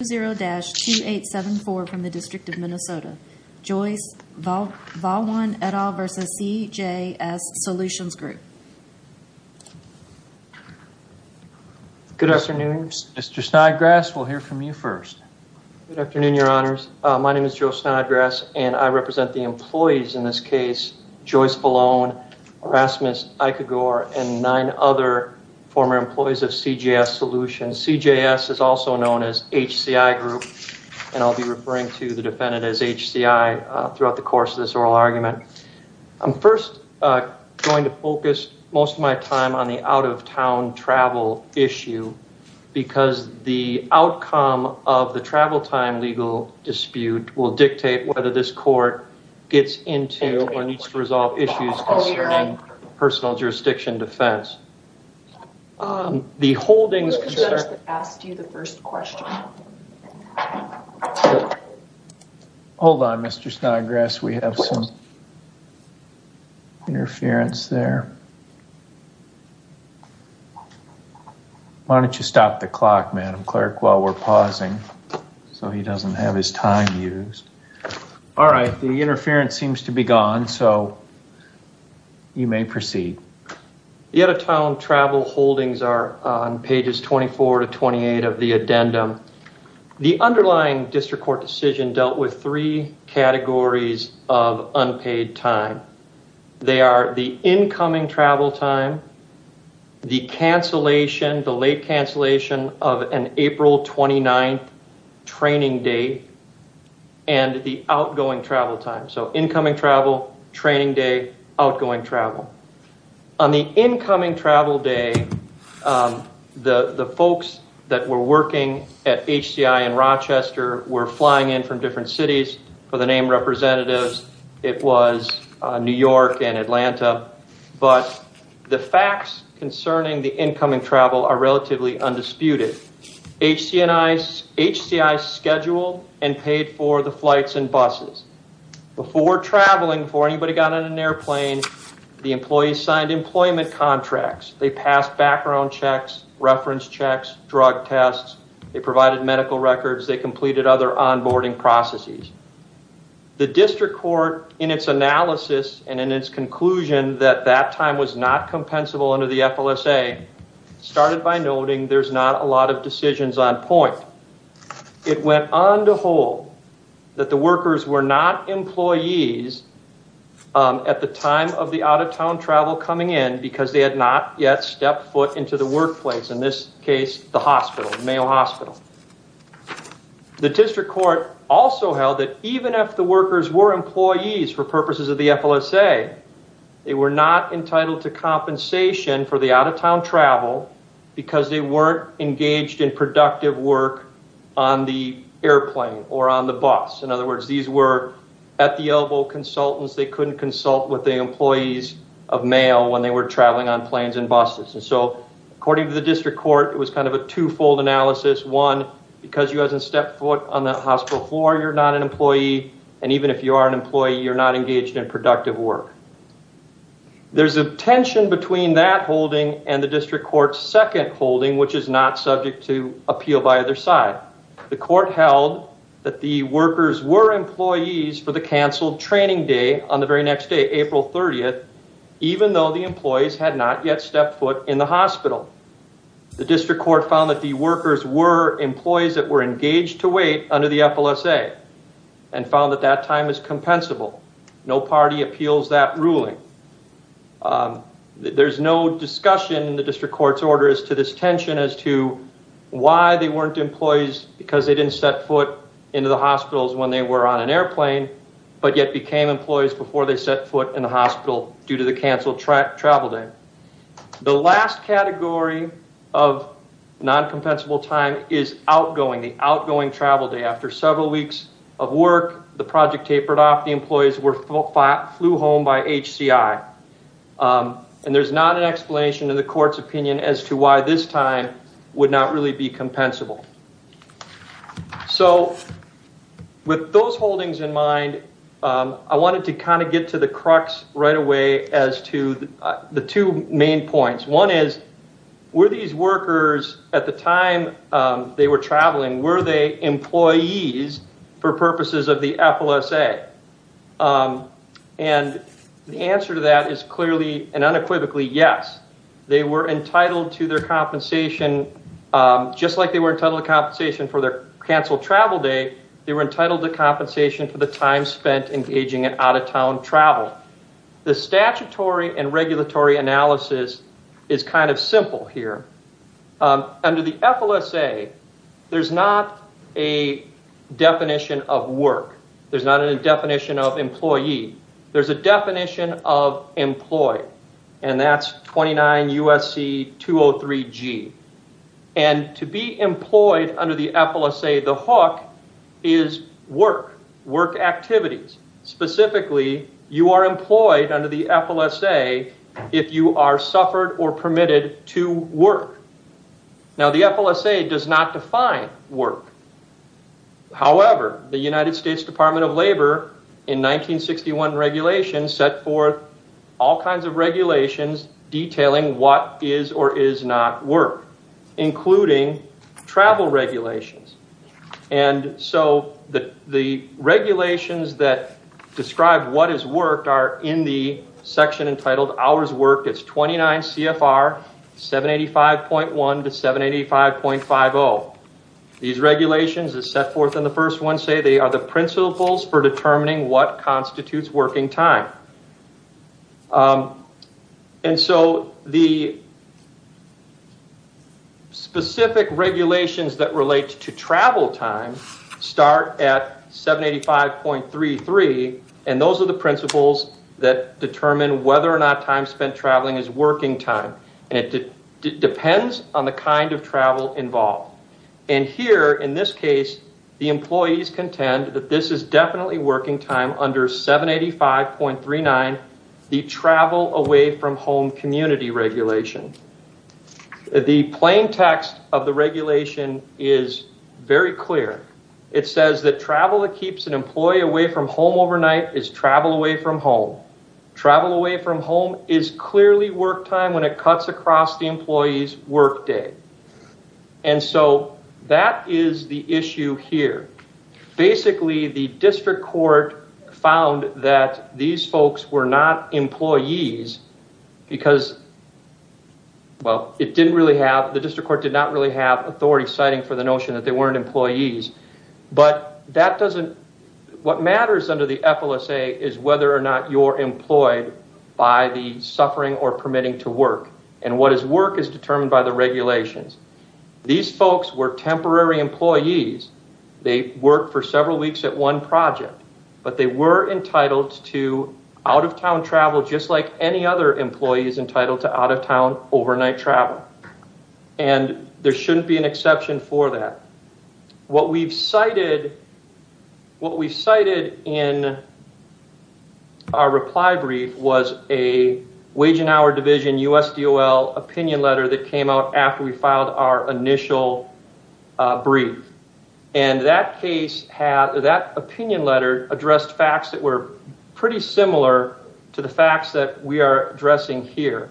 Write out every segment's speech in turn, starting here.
20-2874 from the District of Minnesota. Joyce Vallone et al. v. CJS Solutions Group. Good afternoon, Mr. Snodgrass. We'll hear from you first. Good afternoon, your honors. My name is Joe Snodgrass, and I represent the employees in this case, Joyce Vallone, Erasmus Aikagor, and nine other former employees of CJS Solutions. And CJS is also known as HCI Group, and I'll be referring to the defendant as HCI throughout the course of this oral argument. I'm first going to focus most of my time on the out-of-town travel issue because the outcome of the travel time legal dispute will dictate whether this court gets into or needs to resolve issues concerning personal jurisdiction defense. Who was the judge that asked you the first question? Hold on, Mr. Snodgrass. We have some interference there. Why don't you stop the clock, Madam Clerk, while we're pausing so he doesn't have his time used. All right, the interference seems to be gone, so you may proceed. The out-of-town travel holdings are on pages 24 to 28 of the addendum. The underlying district court decision dealt with three categories of unpaid time. They are the incoming travel time, the late cancellation of an April 29th training day, and the outgoing travel time. So incoming travel, training day, outgoing travel. On the incoming travel day, the folks that were working at HCI in Rochester were flying in from different cities for the name representatives. It was New York and Atlanta. But the facts concerning the incoming travel are relatively undisputed. HCI scheduled and paid for the flights and buses. Before traveling, before anybody got on an airplane, the employees signed employment contracts. They passed background checks, reference checks, drug tests. They provided medical records. They completed other onboarding processes. The district court, in its analysis and in its conclusion that that time was not It went on to hold that the workers were not employees at the time of the out-of-town travel coming in because they had not yet stepped foot into the workplace, in this case, the hospital, the Mayo Hospital. The district court also held that even if the workers were employees for purposes of the FLSA, they were not entitled to compensation for the out-of-town travel because they weren't engaged in productive work on the airplane or on the bus. In other words, these were at-the-elbow consultants. They couldn't consult with the employees of Mayo when they were traveling on planes and buses. So according to the district court, it was kind of a twofold analysis. One, because you haven't stepped foot on the hospital floor, you're not an employee. And even if you are an employee, you're not engaged in productive work. There's a tension between that holding and the district court's second holding, which is not subject to appeal by either side. The court held that the workers were employees for the canceled training day on the very next day, April 30th, even though the employees had not yet stepped foot in the hospital. The district court found that the workers were employees that were engaged to wait under the FLSA and found that that time is compensable. No party appeals that ruling. There's no discussion in the district court's order as to this tension as to why they weren't employees because they didn't step foot into the hospitals when they were on an airplane but yet became employees before they set foot in the hospital due to the canceled travel day. The last category of non-compensable time is outgoing, the outgoing travel day. After several weeks of work, the project tapered off. The employees flew home by HCI. And there's not an explanation in the court's opinion as to why this time would not really be compensable. So with those holdings in mind, I wanted to kind of get to the crux right away as to the two main points. One is, were these workers at the time they were traveling, were they employees for purposes of the FLSA? And the answer to that is clearly and unequivocally yes. They were entitled to their compensation, just like they were entitled to compensation for their canceled travel day, they were entitled to compensation for the time spent engaging in out-of-town travel. The statutory and regulatory analysis is kind of simple here. Under the FLSA, there's not a definition of work. There's not a definition of employee. There's a definition of employee, and that's 29 U.S.C. 203G. And to be employed under the FLSA, the hook is work, work activities. Specifically, you are employed under the FLSA if you are suffered or permitted to work. Now, the FLSA does not define work. However, the United States Department of Labor, in 1961 regulations, set forth all kinds of regulations detailing what is or is not work, including travel regulations. And so the regulations that describe what is work are in the section entitled hours worked. It's 29 CFR 785.1 to 785.50. These regulations that set forth in the first one say they are the principles for determining what constitutes working time. And so the specific regulations that relate to travel time start at 785.33, and those are the principles that determine whether or not time spent traveling is working time. And it depends on the kind of travel involved. And here, in this case, the employees contend that this is definitely working time under 785.39, the travel away from home community regulation. The plain text of the regulation is very clear. It says that travel that keeps an employee away from home overnight is travel away from home. Travel away from home is clearly work time when it cuts across the employee's work day. And so that is the issue here. Basically, the district court found that these folks were not employees because, well, it didn't really have, the district court did not really have authority citing for the notion that they weren't employees. But that doesn't, what matters under the FLSA is whether or not you're employed by the suffering or permitting to work. And what is work is determined by the regulations. These folks were temporary employees. They worked for several weeks at one project. But they were entitled to out-of-town travel just like any other employee is entitled to out-of-town overnight travel. And there shouldn't be an exception for that. What we've cited in our reply brief was a Wage and Hour Division USDOL opinion letter that came out after we filed our initial brief. And that case had, that opinion letter addressed facts that were pretty similar to the facts that we are addressing here.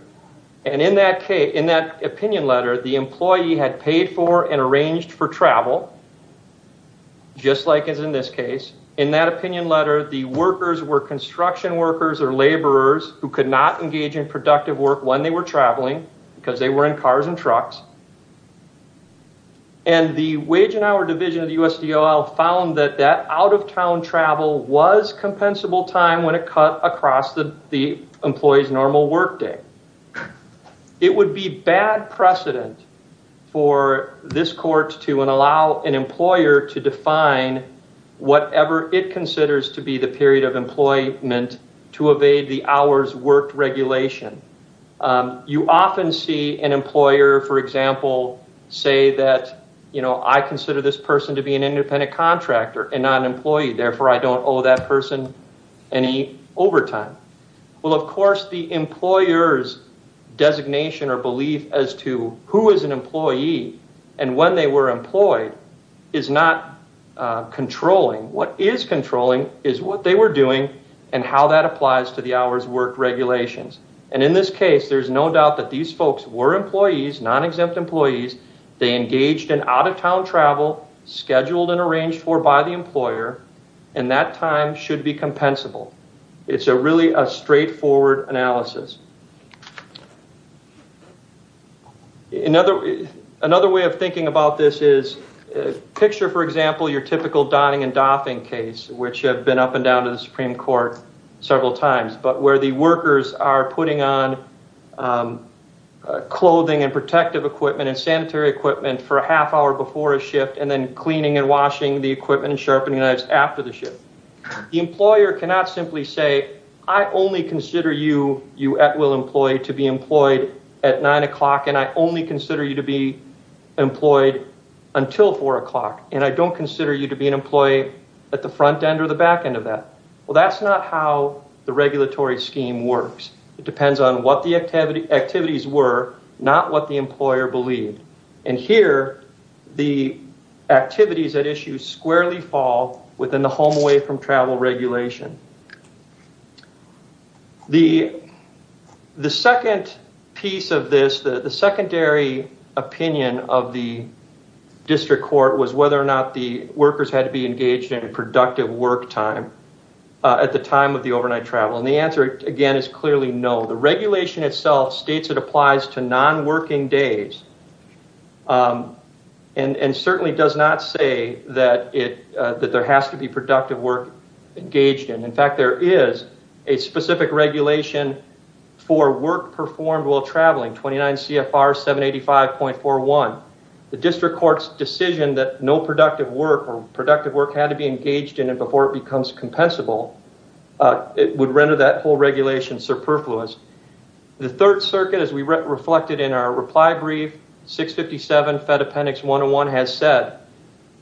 And in that case, in that opinion letter, the employee had paid for and arranged for travel just like is in this case. In that opinion letter, the workers were construction workers or laborers who could not engage in productive work when they were traveling because they were in cars and trucks. And the Wage and Hour Division of the USDOL found that that out-of-town travel was compensable time when it cut across the employee's normal work day. It would be bad precedent for this court to allow an employer to define whatever it considers to be the period of employment to evade the hours worked regulation. You often see an employer, for example, say that, you know, I consider this person to be an independent contractor and not an employee. Therefore, I don't owe that person any overtime. Well, of course, the employer's designation or belief as to who is an employee and when they were employed is not controlling. What is controlling is what they were doing and how that applies to the hours worked regulations. And in this case, there's no doubt that these folks were employees, non-exempt employees. They engaged in out-of-town travel scheduled and arranged for by the employer. And that time should be compensable. It's a really a straightforward analysis. Another way of thinking about this is picture, for example, your typical Donning and Doffing case, which have been up and down to the Supreme Court several times. But where the workers are putting on clothing and protective equipment and sanitary equipment for a half hour before a shift and then cleaning and washing the equipment and sharpening knives after the shift. The employer cannot simply say, I only consider you at will employee to be employed at 9 o'clock and I only consider you to be employed until 4 o'clock. And I don't consider you to be an employee at the front end or the back end of that. Well, that's not how the regulatory scheme works. It depends on what the activities were, not what the employer believed. And here, the activities at issue squarely fall within the home away from travel regulation. The second piece of this, the secondary opinion of the district court was whether or not the workers had to be engaged in a productive work time at the time of the overnight travel. And the answer, again, is clearly no. The regulation itself states it applies to non-working days and certainly does not say that there has to be productive work engaged in. In fact, there is a specific regulation for work performed while traveling, 29 CFR 785.41. The district court's decision that no productive work or productive work had to be engaged in it before it becomes compensable, it would render that whole regulation superfluous. The third circuit, as we reflected in our reply brief, 657 Fed Appendix 101 has said,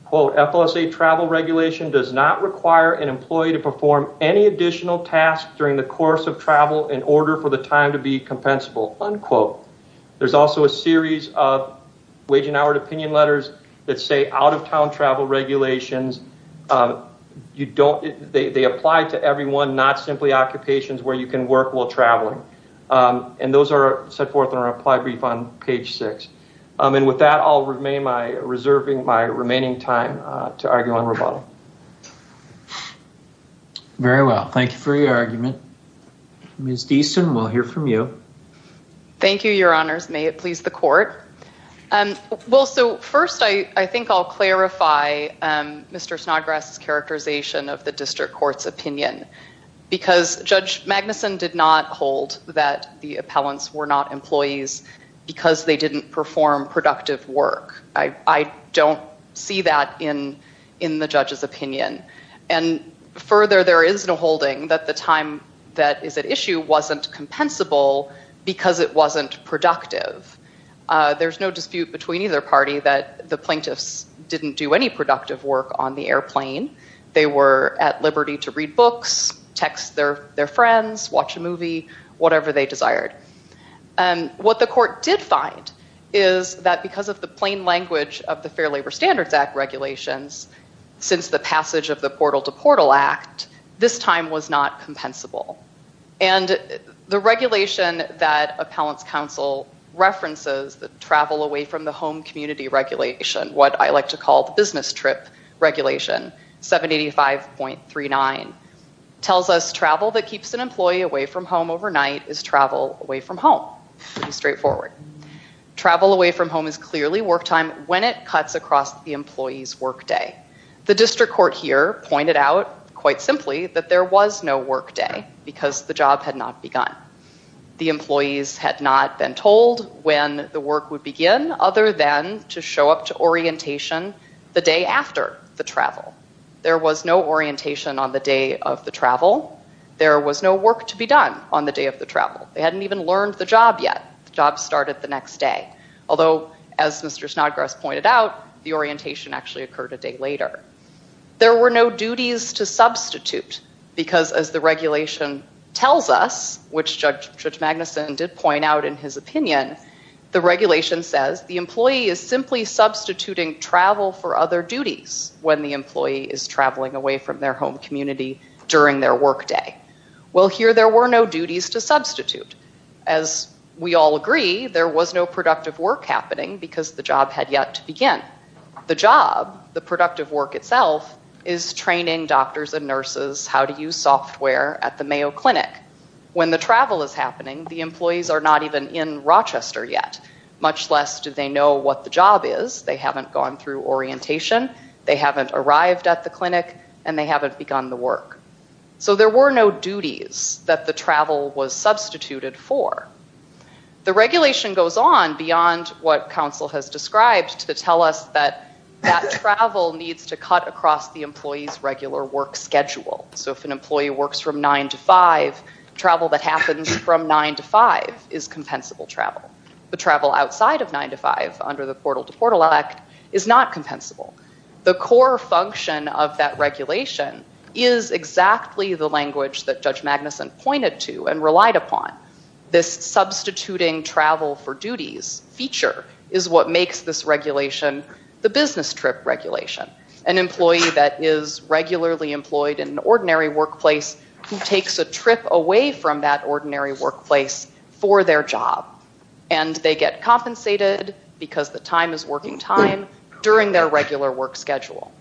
quote, FOSA travel regulation does not require an employee to perform any additional tasks during the course of travel in order for the time to be compensable, unquote. There's also a series of opinion letters that say out of town travel regulations, they apply to everyone, not simply occupations where you can work while traveling. And those are set forth in our reply brief on page 6. And with that, I'll remain my, reserving my remaining time to argue on rebuttal. Very well. Thank you for your argument. Ms. Deason, we'll hear from you. Thank you, your honors. May it please the court. Well, so first, I think I'll clarify Mr. Snodgrass's characterization of the district court's opinion. Because Judge Magnuson did not hold that the appellants were not employees because they didn't perform productive work. I don't see that in the judge's opinion. And further, there is no holding that the time that is at issue wasn't compensable because it wasn't productive. There's no dispute between either party that the plaintiffs didn't do any productive work on the airplane. They were at liberty to read books, text their friends, watch a movie, whatever they desired. What the court did find is that because of the plain language of the Fair Labor Standards Act regulations, since the passage of the Portal to Portal Act, this time was not compensable. And the regulation that Appellants Council references, the travel away from the home community regulation, what I like to call the business trip regulation, 785.39, tells us travel that keeps an employee away from home overnight is travel away from home. Pretty straightforward. Travel away from home is clearly work time when it cuts across the employee's work day. The district court here pointed out, quite simply, that there was no work day because the job had not begun. The employees had not been told when the work would begin, other than to show up to orientation the day after the travel. There was no orientation on the day of the travel. There was no work to be done on the day of the travel. They hadn't even learned the job yet. The job started the next day. Although, as Mr. Snodgrass pointed out, the orientation actually occurred a day later. There were no duties to substitute because, as the regulation tells us, which Judge Magnuson did point out in his opinion, the regulation says the employee is simply substituting travel for other duties when the employee is traveling away from their home community during their work day. Well, here there were no duties to substitute. As we all agree, there was no productive work happening because the job had yet to begin. The job, the productive work itself, is training doctors and nurses how to use software at the Mayo Clinic. When the travel is happening, the employees are not even in Rochester yet, much less do they know what the job is. They haven't gone through orientation. They haven't arrived at the clinic. And they haven't begun the work. So there were no duties that the travel was substituted for. The regulation goes on beyond what counsel has described to tell us that that travel needs to cut across the employee's regular work schedule. So if an employee works from 9 to 5, travel that happens from 9 to 5 is compensable travel. But travel outside of 9 to 5 under the Portal to Portal Act is not compensable. The core function of that regulation is exactly the language that Judge Magnuson pointed to and relied upon. This substituting travel for duties feature is what makes this regulation the business trip regulation. An employee that is regularly employed in an ordinary workplace who takes a trip away from that ordinary workplace for their job, and they get compensated because the time is working time during their regular work schedule.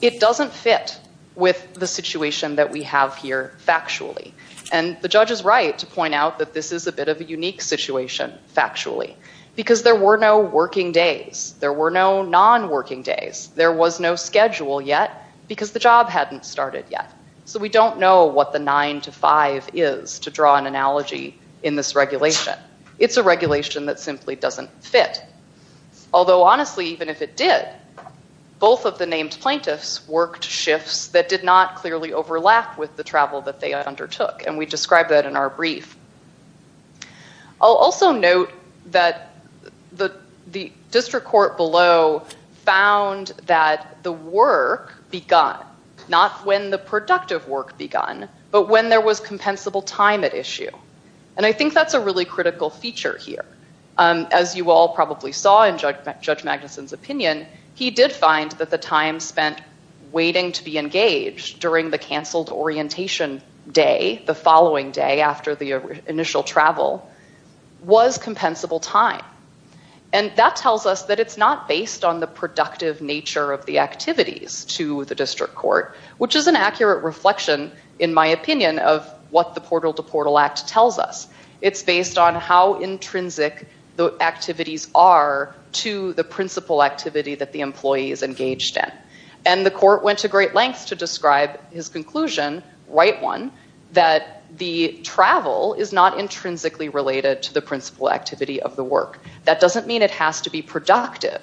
It doesn't fit with the situation that we have here factually. And the judge is right to point out that this is a bit of a unique situation factually because there were no working days. There were no non-working days. There was no schedule yet because the job hadn't started yet. So we don't know what the 9 to 5 is to draw an analogy in this regulation. It's a regulation that simply doesn't fit. Although, honestly, even if it did, both of the named plaintiffs worked shifts that did not clearly overlap with the travel that they undertook. And we describe that in our brief. I'll also note that the district court below found that the work begun, not when the productive work begun, but when there was compensable time at issue. And I think that's a really critical feature here. As you all probably saw in Judge Magnuson's opinion, he did find that the time spent waiting to be engaged during the canceled orientation day, the following day after the initial travel, was compensable time. And that tells us that it's not based on the productive nature of the activities to the district court, which is an accurate reflection, in my opinion, of what the Portal to Portal Act tells us. It's based on how intrinsic the activities are to the principal activity that the employee is engaged in. And the court went to great lengths to describe his conclusion, right one, that the travel is not intrinsically related to the principal activity of the work. That doesn't mean it has to be productive.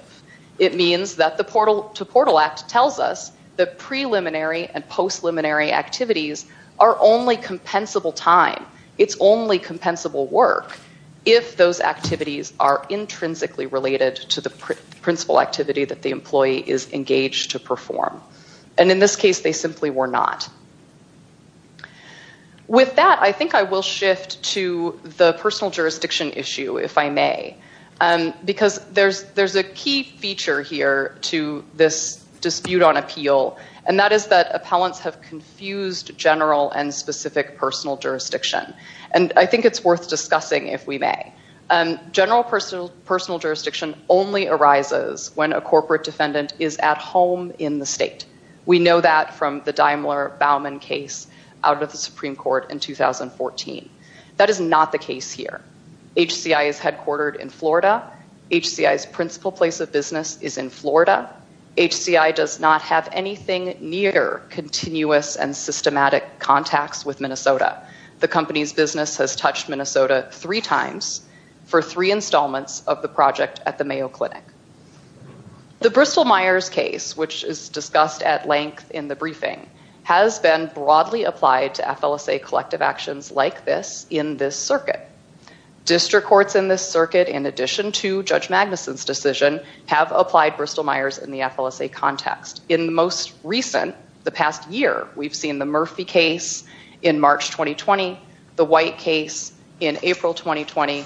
It means that the Portal to Portal Act tells us that preliminary and post-preliminary activities are only compensable time. It's only compensable work if those activities are intrinsically related to the principal activity that the employee is engaged to perform. And in this case, they simply were not. With that, I think I will shift to the personal jurisdiction issue, if I may. Because there's a key feature here to this dispute on appeal, and that is that appellants have confused general and specific personal jurisdiction. And I think it's worth discussing, if we may. General personal jurisdiction only arises when a corporate defendant is at home in the state. We know that from the Daimler-Bauman case out of the Supreme Court in 2014. That is not the case here. HCI is headquartered in Florida. HCI's principal place of business is in Florida. HCI does not have anything near continuous and systematic contacts with Minnesota. The company's business has touched Minnesota three times for three installments of the project at the Mayo Clinic. The Bristol-Myers case, which is discussed at length in the briefing, has been broadly applied to FLSA collective actions like this in this circuit. District courts in this circuit, in addition to Judge Magnuson's decision, have applied Bristol-Myers in the FLSA context. In the most recent, the past year, we've seen the Murphy case in March 2020, the White case in April 2020,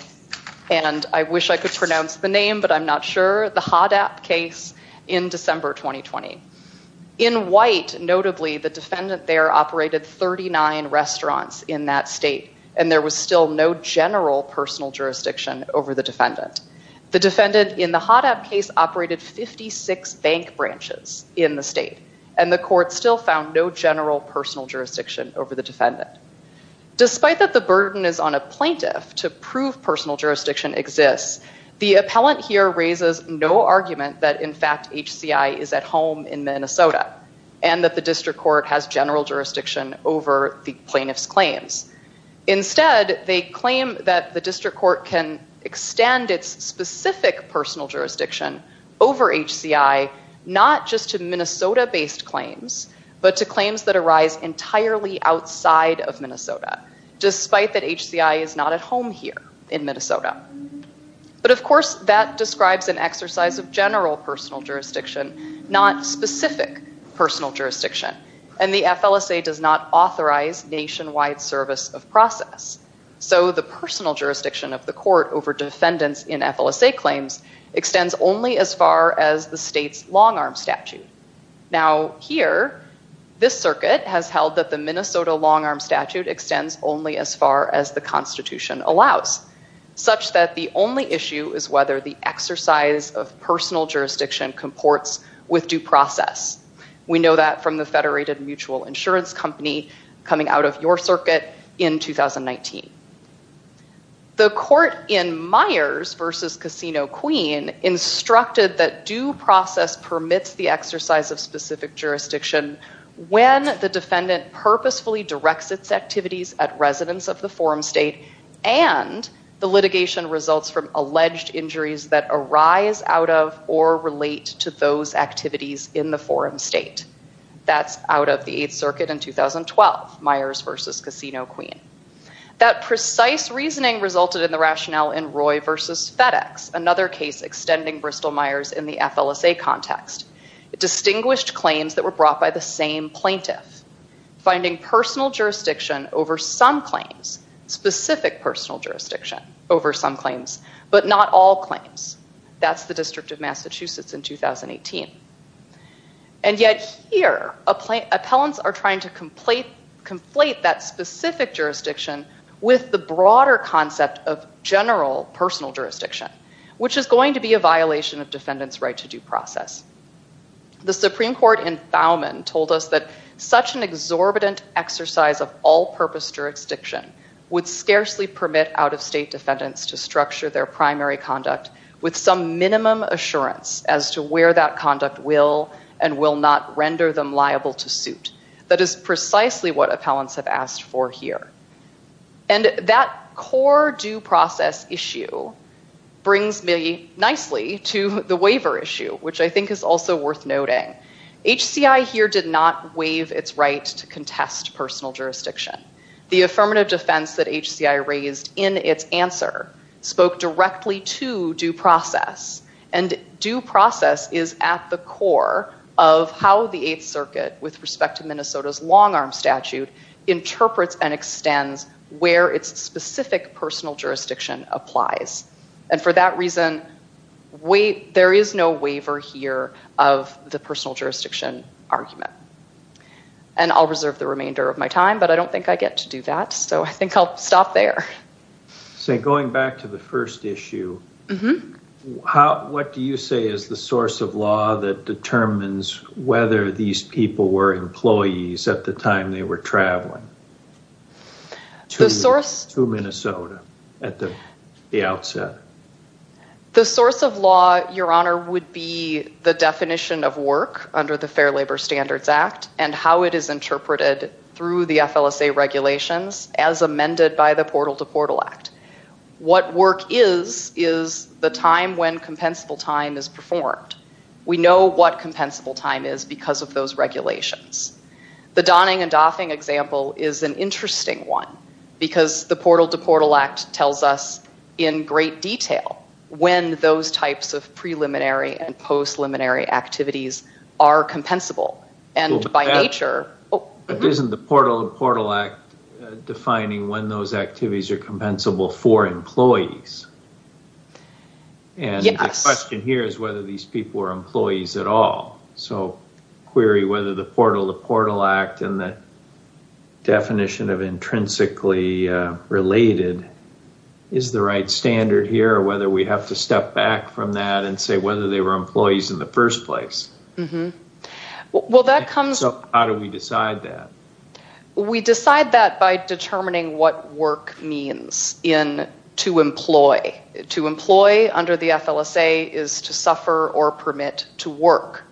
and I wish I could pronounce the name, but I'm not sure, the Hoddap case in December 2020. In White, notably, the defendant there operated 39 restaurants in that state, and there was still no general personal jurisdiction over the defendant. The defendant in the Hoddap case operated 56 bank branches in the state, and the court still found no general personal jurisdiction over the defendant. Despite that the burden is on a plaintiff to prove personal jurisdiction exists, the appellant here raises no argument that, in fact, HCI is at home in Minnesota and that the district court has general jurisdiction over the plaintiff's claims. Instead, they claim that the district court can extend its specific personal jurisdiction over HCI not just to Minnesota-based claims, but to claims that arise entirely outside of Minnesota, despite that HCI is not at home here in Minnesota. But, of course, that describes an exercise of general personal jurisdiction, not specific personal jurisdiction, and the FLSA does not authorize nationwide service of process. So the personal jurisdiction of the court over defendants in FLSA claims extends only as far as the state's long-arm statute. Now, here, this circuit has held that the Minnesota long-arm statute extends only as far as the Constitution allows, such that the only issue is whether the exercise of personal jurisdiction comports with due process. We know that from the Federated Mutual Insurance Company coming out of your circuit in 2019. The court in Myers v. Casino Queen instructed that due process permits the exercise of specific jurisdiction when the defendant purposefully directs its activities at residence of the forum state and the litigation results from alleged injuries that arise out of or relate to those activities in the forum state. That's out of the Eighth Circuit in 2012, Myers v. Casino Queen. That precise reasoning resulted in the rationale in Roy v. FedEx, another case extending Bristol-Myers in the FLSA context. It distinguished claims that were brought by the same plaintiff, finding personal jurisdiction over some claims, specific personal jurisdiction over some claims, but not all claims. That's the District of Massachusetts in 2018. And yet here, appellants are trying to conflate that specific jurisdiction with the broader concept of general personal jurisdiction, which is going to be a violation of defendants' right to due process. The Supreme Court in Thowman told us that such an exorbitant exercise of all-purpose jurisdiction would scarcely permit out-of-state defendants to structure their primary conduct with some minimum assurance as to where that conduct will and will not render them liable to suit. That is precisely what appellants have asked for here. And that core due process issue brings me nicely to the waiver issue, which I think is also worth noting. HCI here did not waive its right to contest personal jurisdiction. The affirmative defense that HCI raised in its answer spoke directly to due process, and due process is at the core of how the Eighth Circuit, with respect to Minnesota's long-arm statute, interprets and extends where its specific personal jurisdiction applies. And for that reason, there is no waiver here of the personal jurisdiction argument. And I'll reserve the remainder of my time, but I don't think I get to do that, so I think I'll stop there. So going back to the first issue, what do you say is the source of law that determines whether these people were employees at the time they were traveling to Minnesota at the outset? The source of law, Your Honor, would be the definition of work under the Fair Labor Standards Act and how it is interpreted through the FLSA regulations as amended by the Portal to Portal Act. What work is is the time when compensable time is performed. We know what compensable time is because of those regulations. The Donning and Doffing example is an interesting one because the Portal to Portal Act tells us in great detail when those types of preliminary and post-preliminary activities are compensable, and by nature... But isn't the Portal to Portal Act defining when those activities are compensable for employees? And the question here is whether these people were employees at all. So query whether the Portal to Portal Act and the definition of intrinsically related is the right standard here, or whether we have to step back from that and say whether they were employees in the first place. So how do we decide that? We decide that by determining what work means in to employ. To employ under the FLSA is to suffer or permit to work.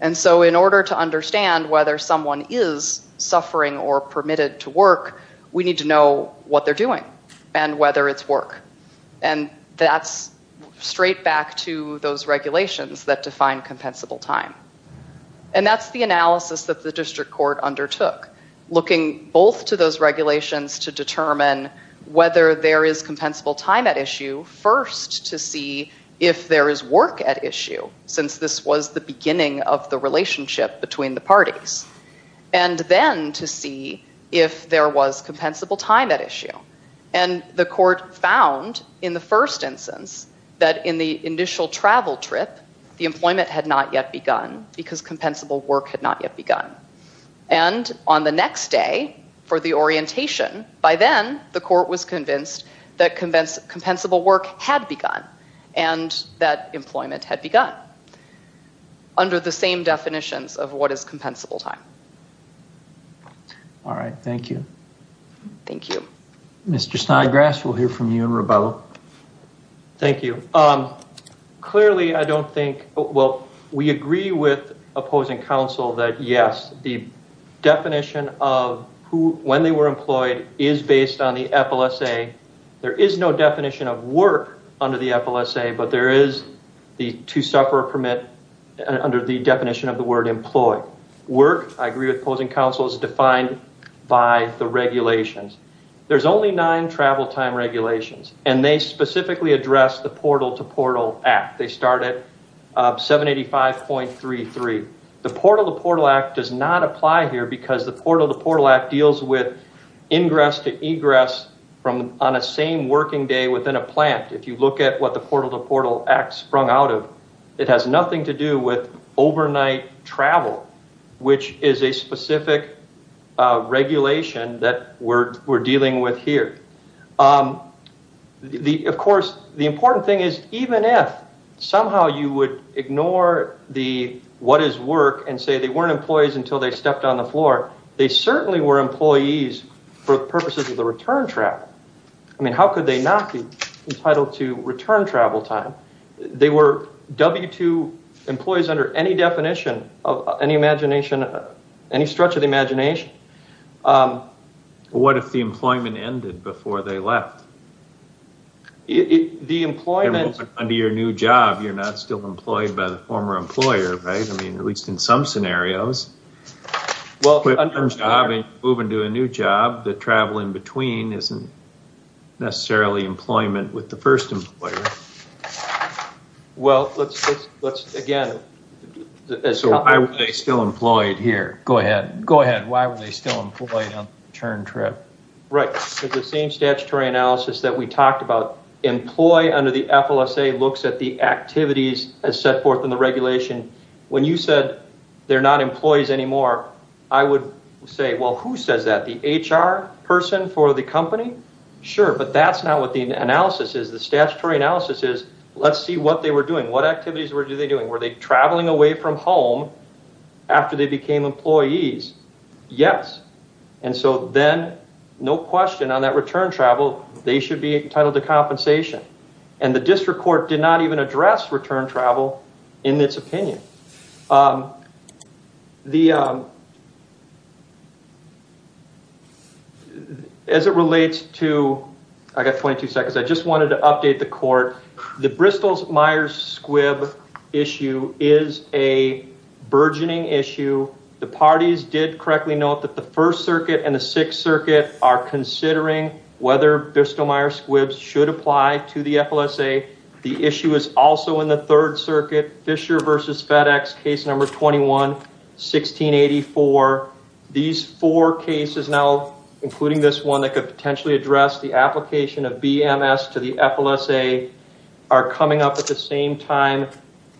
And so in order to understand whether someone is suffering or permitted to work, we need to know what they're doing and whether it's work. And that's straight back to those regulations that define compensable time. And that's the analysis that the district court undertook, looking both to those regulations to determine whether there is compensable time at issue, first to see if there is work at issue, since this was the beginning of the relationship between the parties, and then to see if there was compensable time at issue. And the court found in the first instance that in the initial travel trip, the employment had not yet begun because compensable work had not yet begun. And on the next day for the orientation, by then the court was convinced that compensable work had begun and that employment had begun under the same definitions of what is compensable time. All right. Thank you. Thank you. Mr. Snodgrass, we'll hear from you and Rubello. Thank you. Clearly, I don't think, well, we agree with opposing counsel that, yes, the definition of when they were employed is based on the FLSA. There is no definition of work under the FLSA, but there is the two-sufferer permit under the definition of the word employed. Work, I agree with opposing counsel, is defined by the regulations. There's only nine travel time regulations, and they specifically address the Portal-to-Portal Act. They start at 785.33. The Portal-to-Portal Act does not apply here because the Portal-to-Portal Act deals with ingress to egress on a same working day within a plant. If you look at what the Portal-to-Portal Act sprung out of, it has nothing to do with overnight travel, which is a specific regulation that we're dealing with here. Of course, the important thing is, even if somehow you would ignore the what is work and say they weren't employees until they stepped on the floor, they certainly were employees for the purposes of the return travel. I mean, how could they not be entitled to return travel time? They were W-2 employees under any definition, any imagination, any stretch of the imagination. What if the employment ended before they left? Under your new job, you're not still employed by the former employer, right? I mean, at least in some scenarios. Moving to a new job, the travel in between isn't necessarily employment with the first employer. So why were they still employed here? Go ahead. Why were they still employed on the return trip? Right. It's the same statutory analysis that we talked about. Employee under the FLSA looks at the activities as set forth in the regulation. When you said they're not employees anymore, I would say, well, who says that? The HR person for the company? Sure, but that's not what the analysis is. The statutory analysis is, let's see what they were doing. What activities were they doing? Were they traveling away from home after they became employees? Yes. And so then no question on that return travel, they should be entitled to compensation. And the district court did not even address return travel in its opinion. As it relates to... I got 22 seconds. I just wanted to update the court. The Bristol-Myers-Squibb issue is a burgeoning issue. The parties did correctly note that the First Circuit and the Sixth Circuit are considering whether Bristol-Myers-Squibb should apply to the FLSA. The issue is also in the Third Circuit, Fisher v. FedEx, case number 21, 1684. These four cases now, including this one, that could potentially address the application of BMS to the FLSA are coming up at the same time.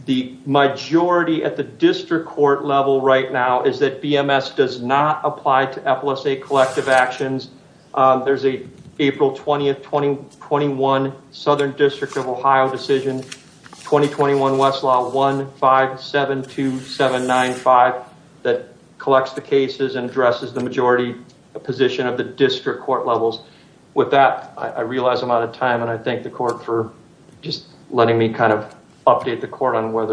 The majority at the district court level right now is that BMS does not apply to FLSA collective actions. There's an April 20, 2021 Southern District of Ohio decision, 2021 Westlaw 1572795, that collects the cases and addresses the majority position of the district court levels. With that, I realize I'm out of time, and I thank the court for just letting me kind of update the court on where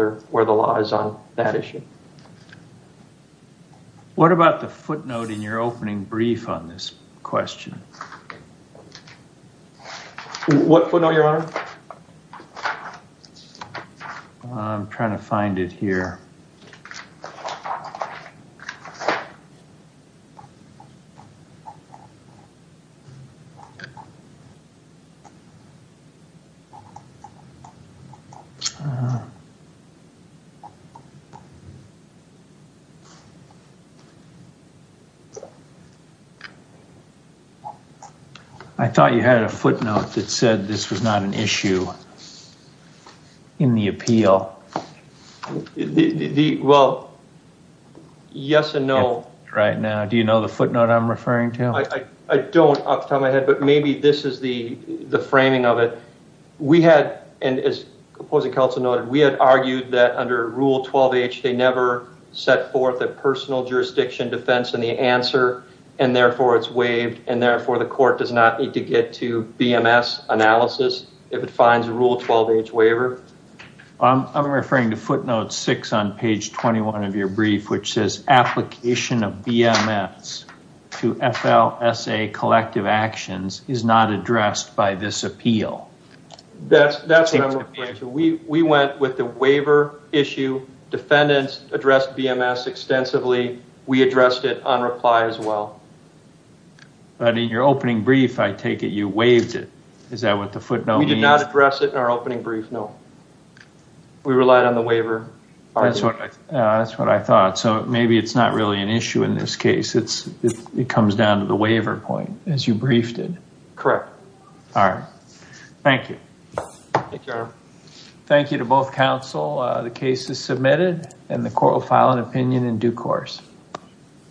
the law is on that issue. What about the footnote in your opening brief on this question? What footnote, Your Honor? I'm trying to find it here. Okay. I thought you had a footnote that said this was not an issue in the appeal. Well, yes and no. Right now. Do you know the footnote I'm referring to? I don't off the top of my head, but maybe this is the framing of it. We had, and as opposing counsel noted, we had argued that under Rule 12H, they never set forth a personal jurisdiction defense in the answer, and therefore it's waived, and therefore the court does not need to get to BMS analysis if it finds a Rule 12H waiver. I'm referring to footnote six on page 21 of your brief, which says application of BMS to FLSA collective actions is not addressed by this appeal. That's what I'm referring to. We went with the waiver issue. Defendants addressed BMS extensively. We addressed it on reply as well. But in your opening brief, I take it you waived it. Is that what the footnote means? We relied on the waiver. That's what I thought. Maybe it's not really an issue in this case. It comes down to the waiver point, as you briefed it. Correct. All right. Thank you. Thank you, Your Honor. Thank you to both counsel. The case is submitted, and the court will file an opinion in due course.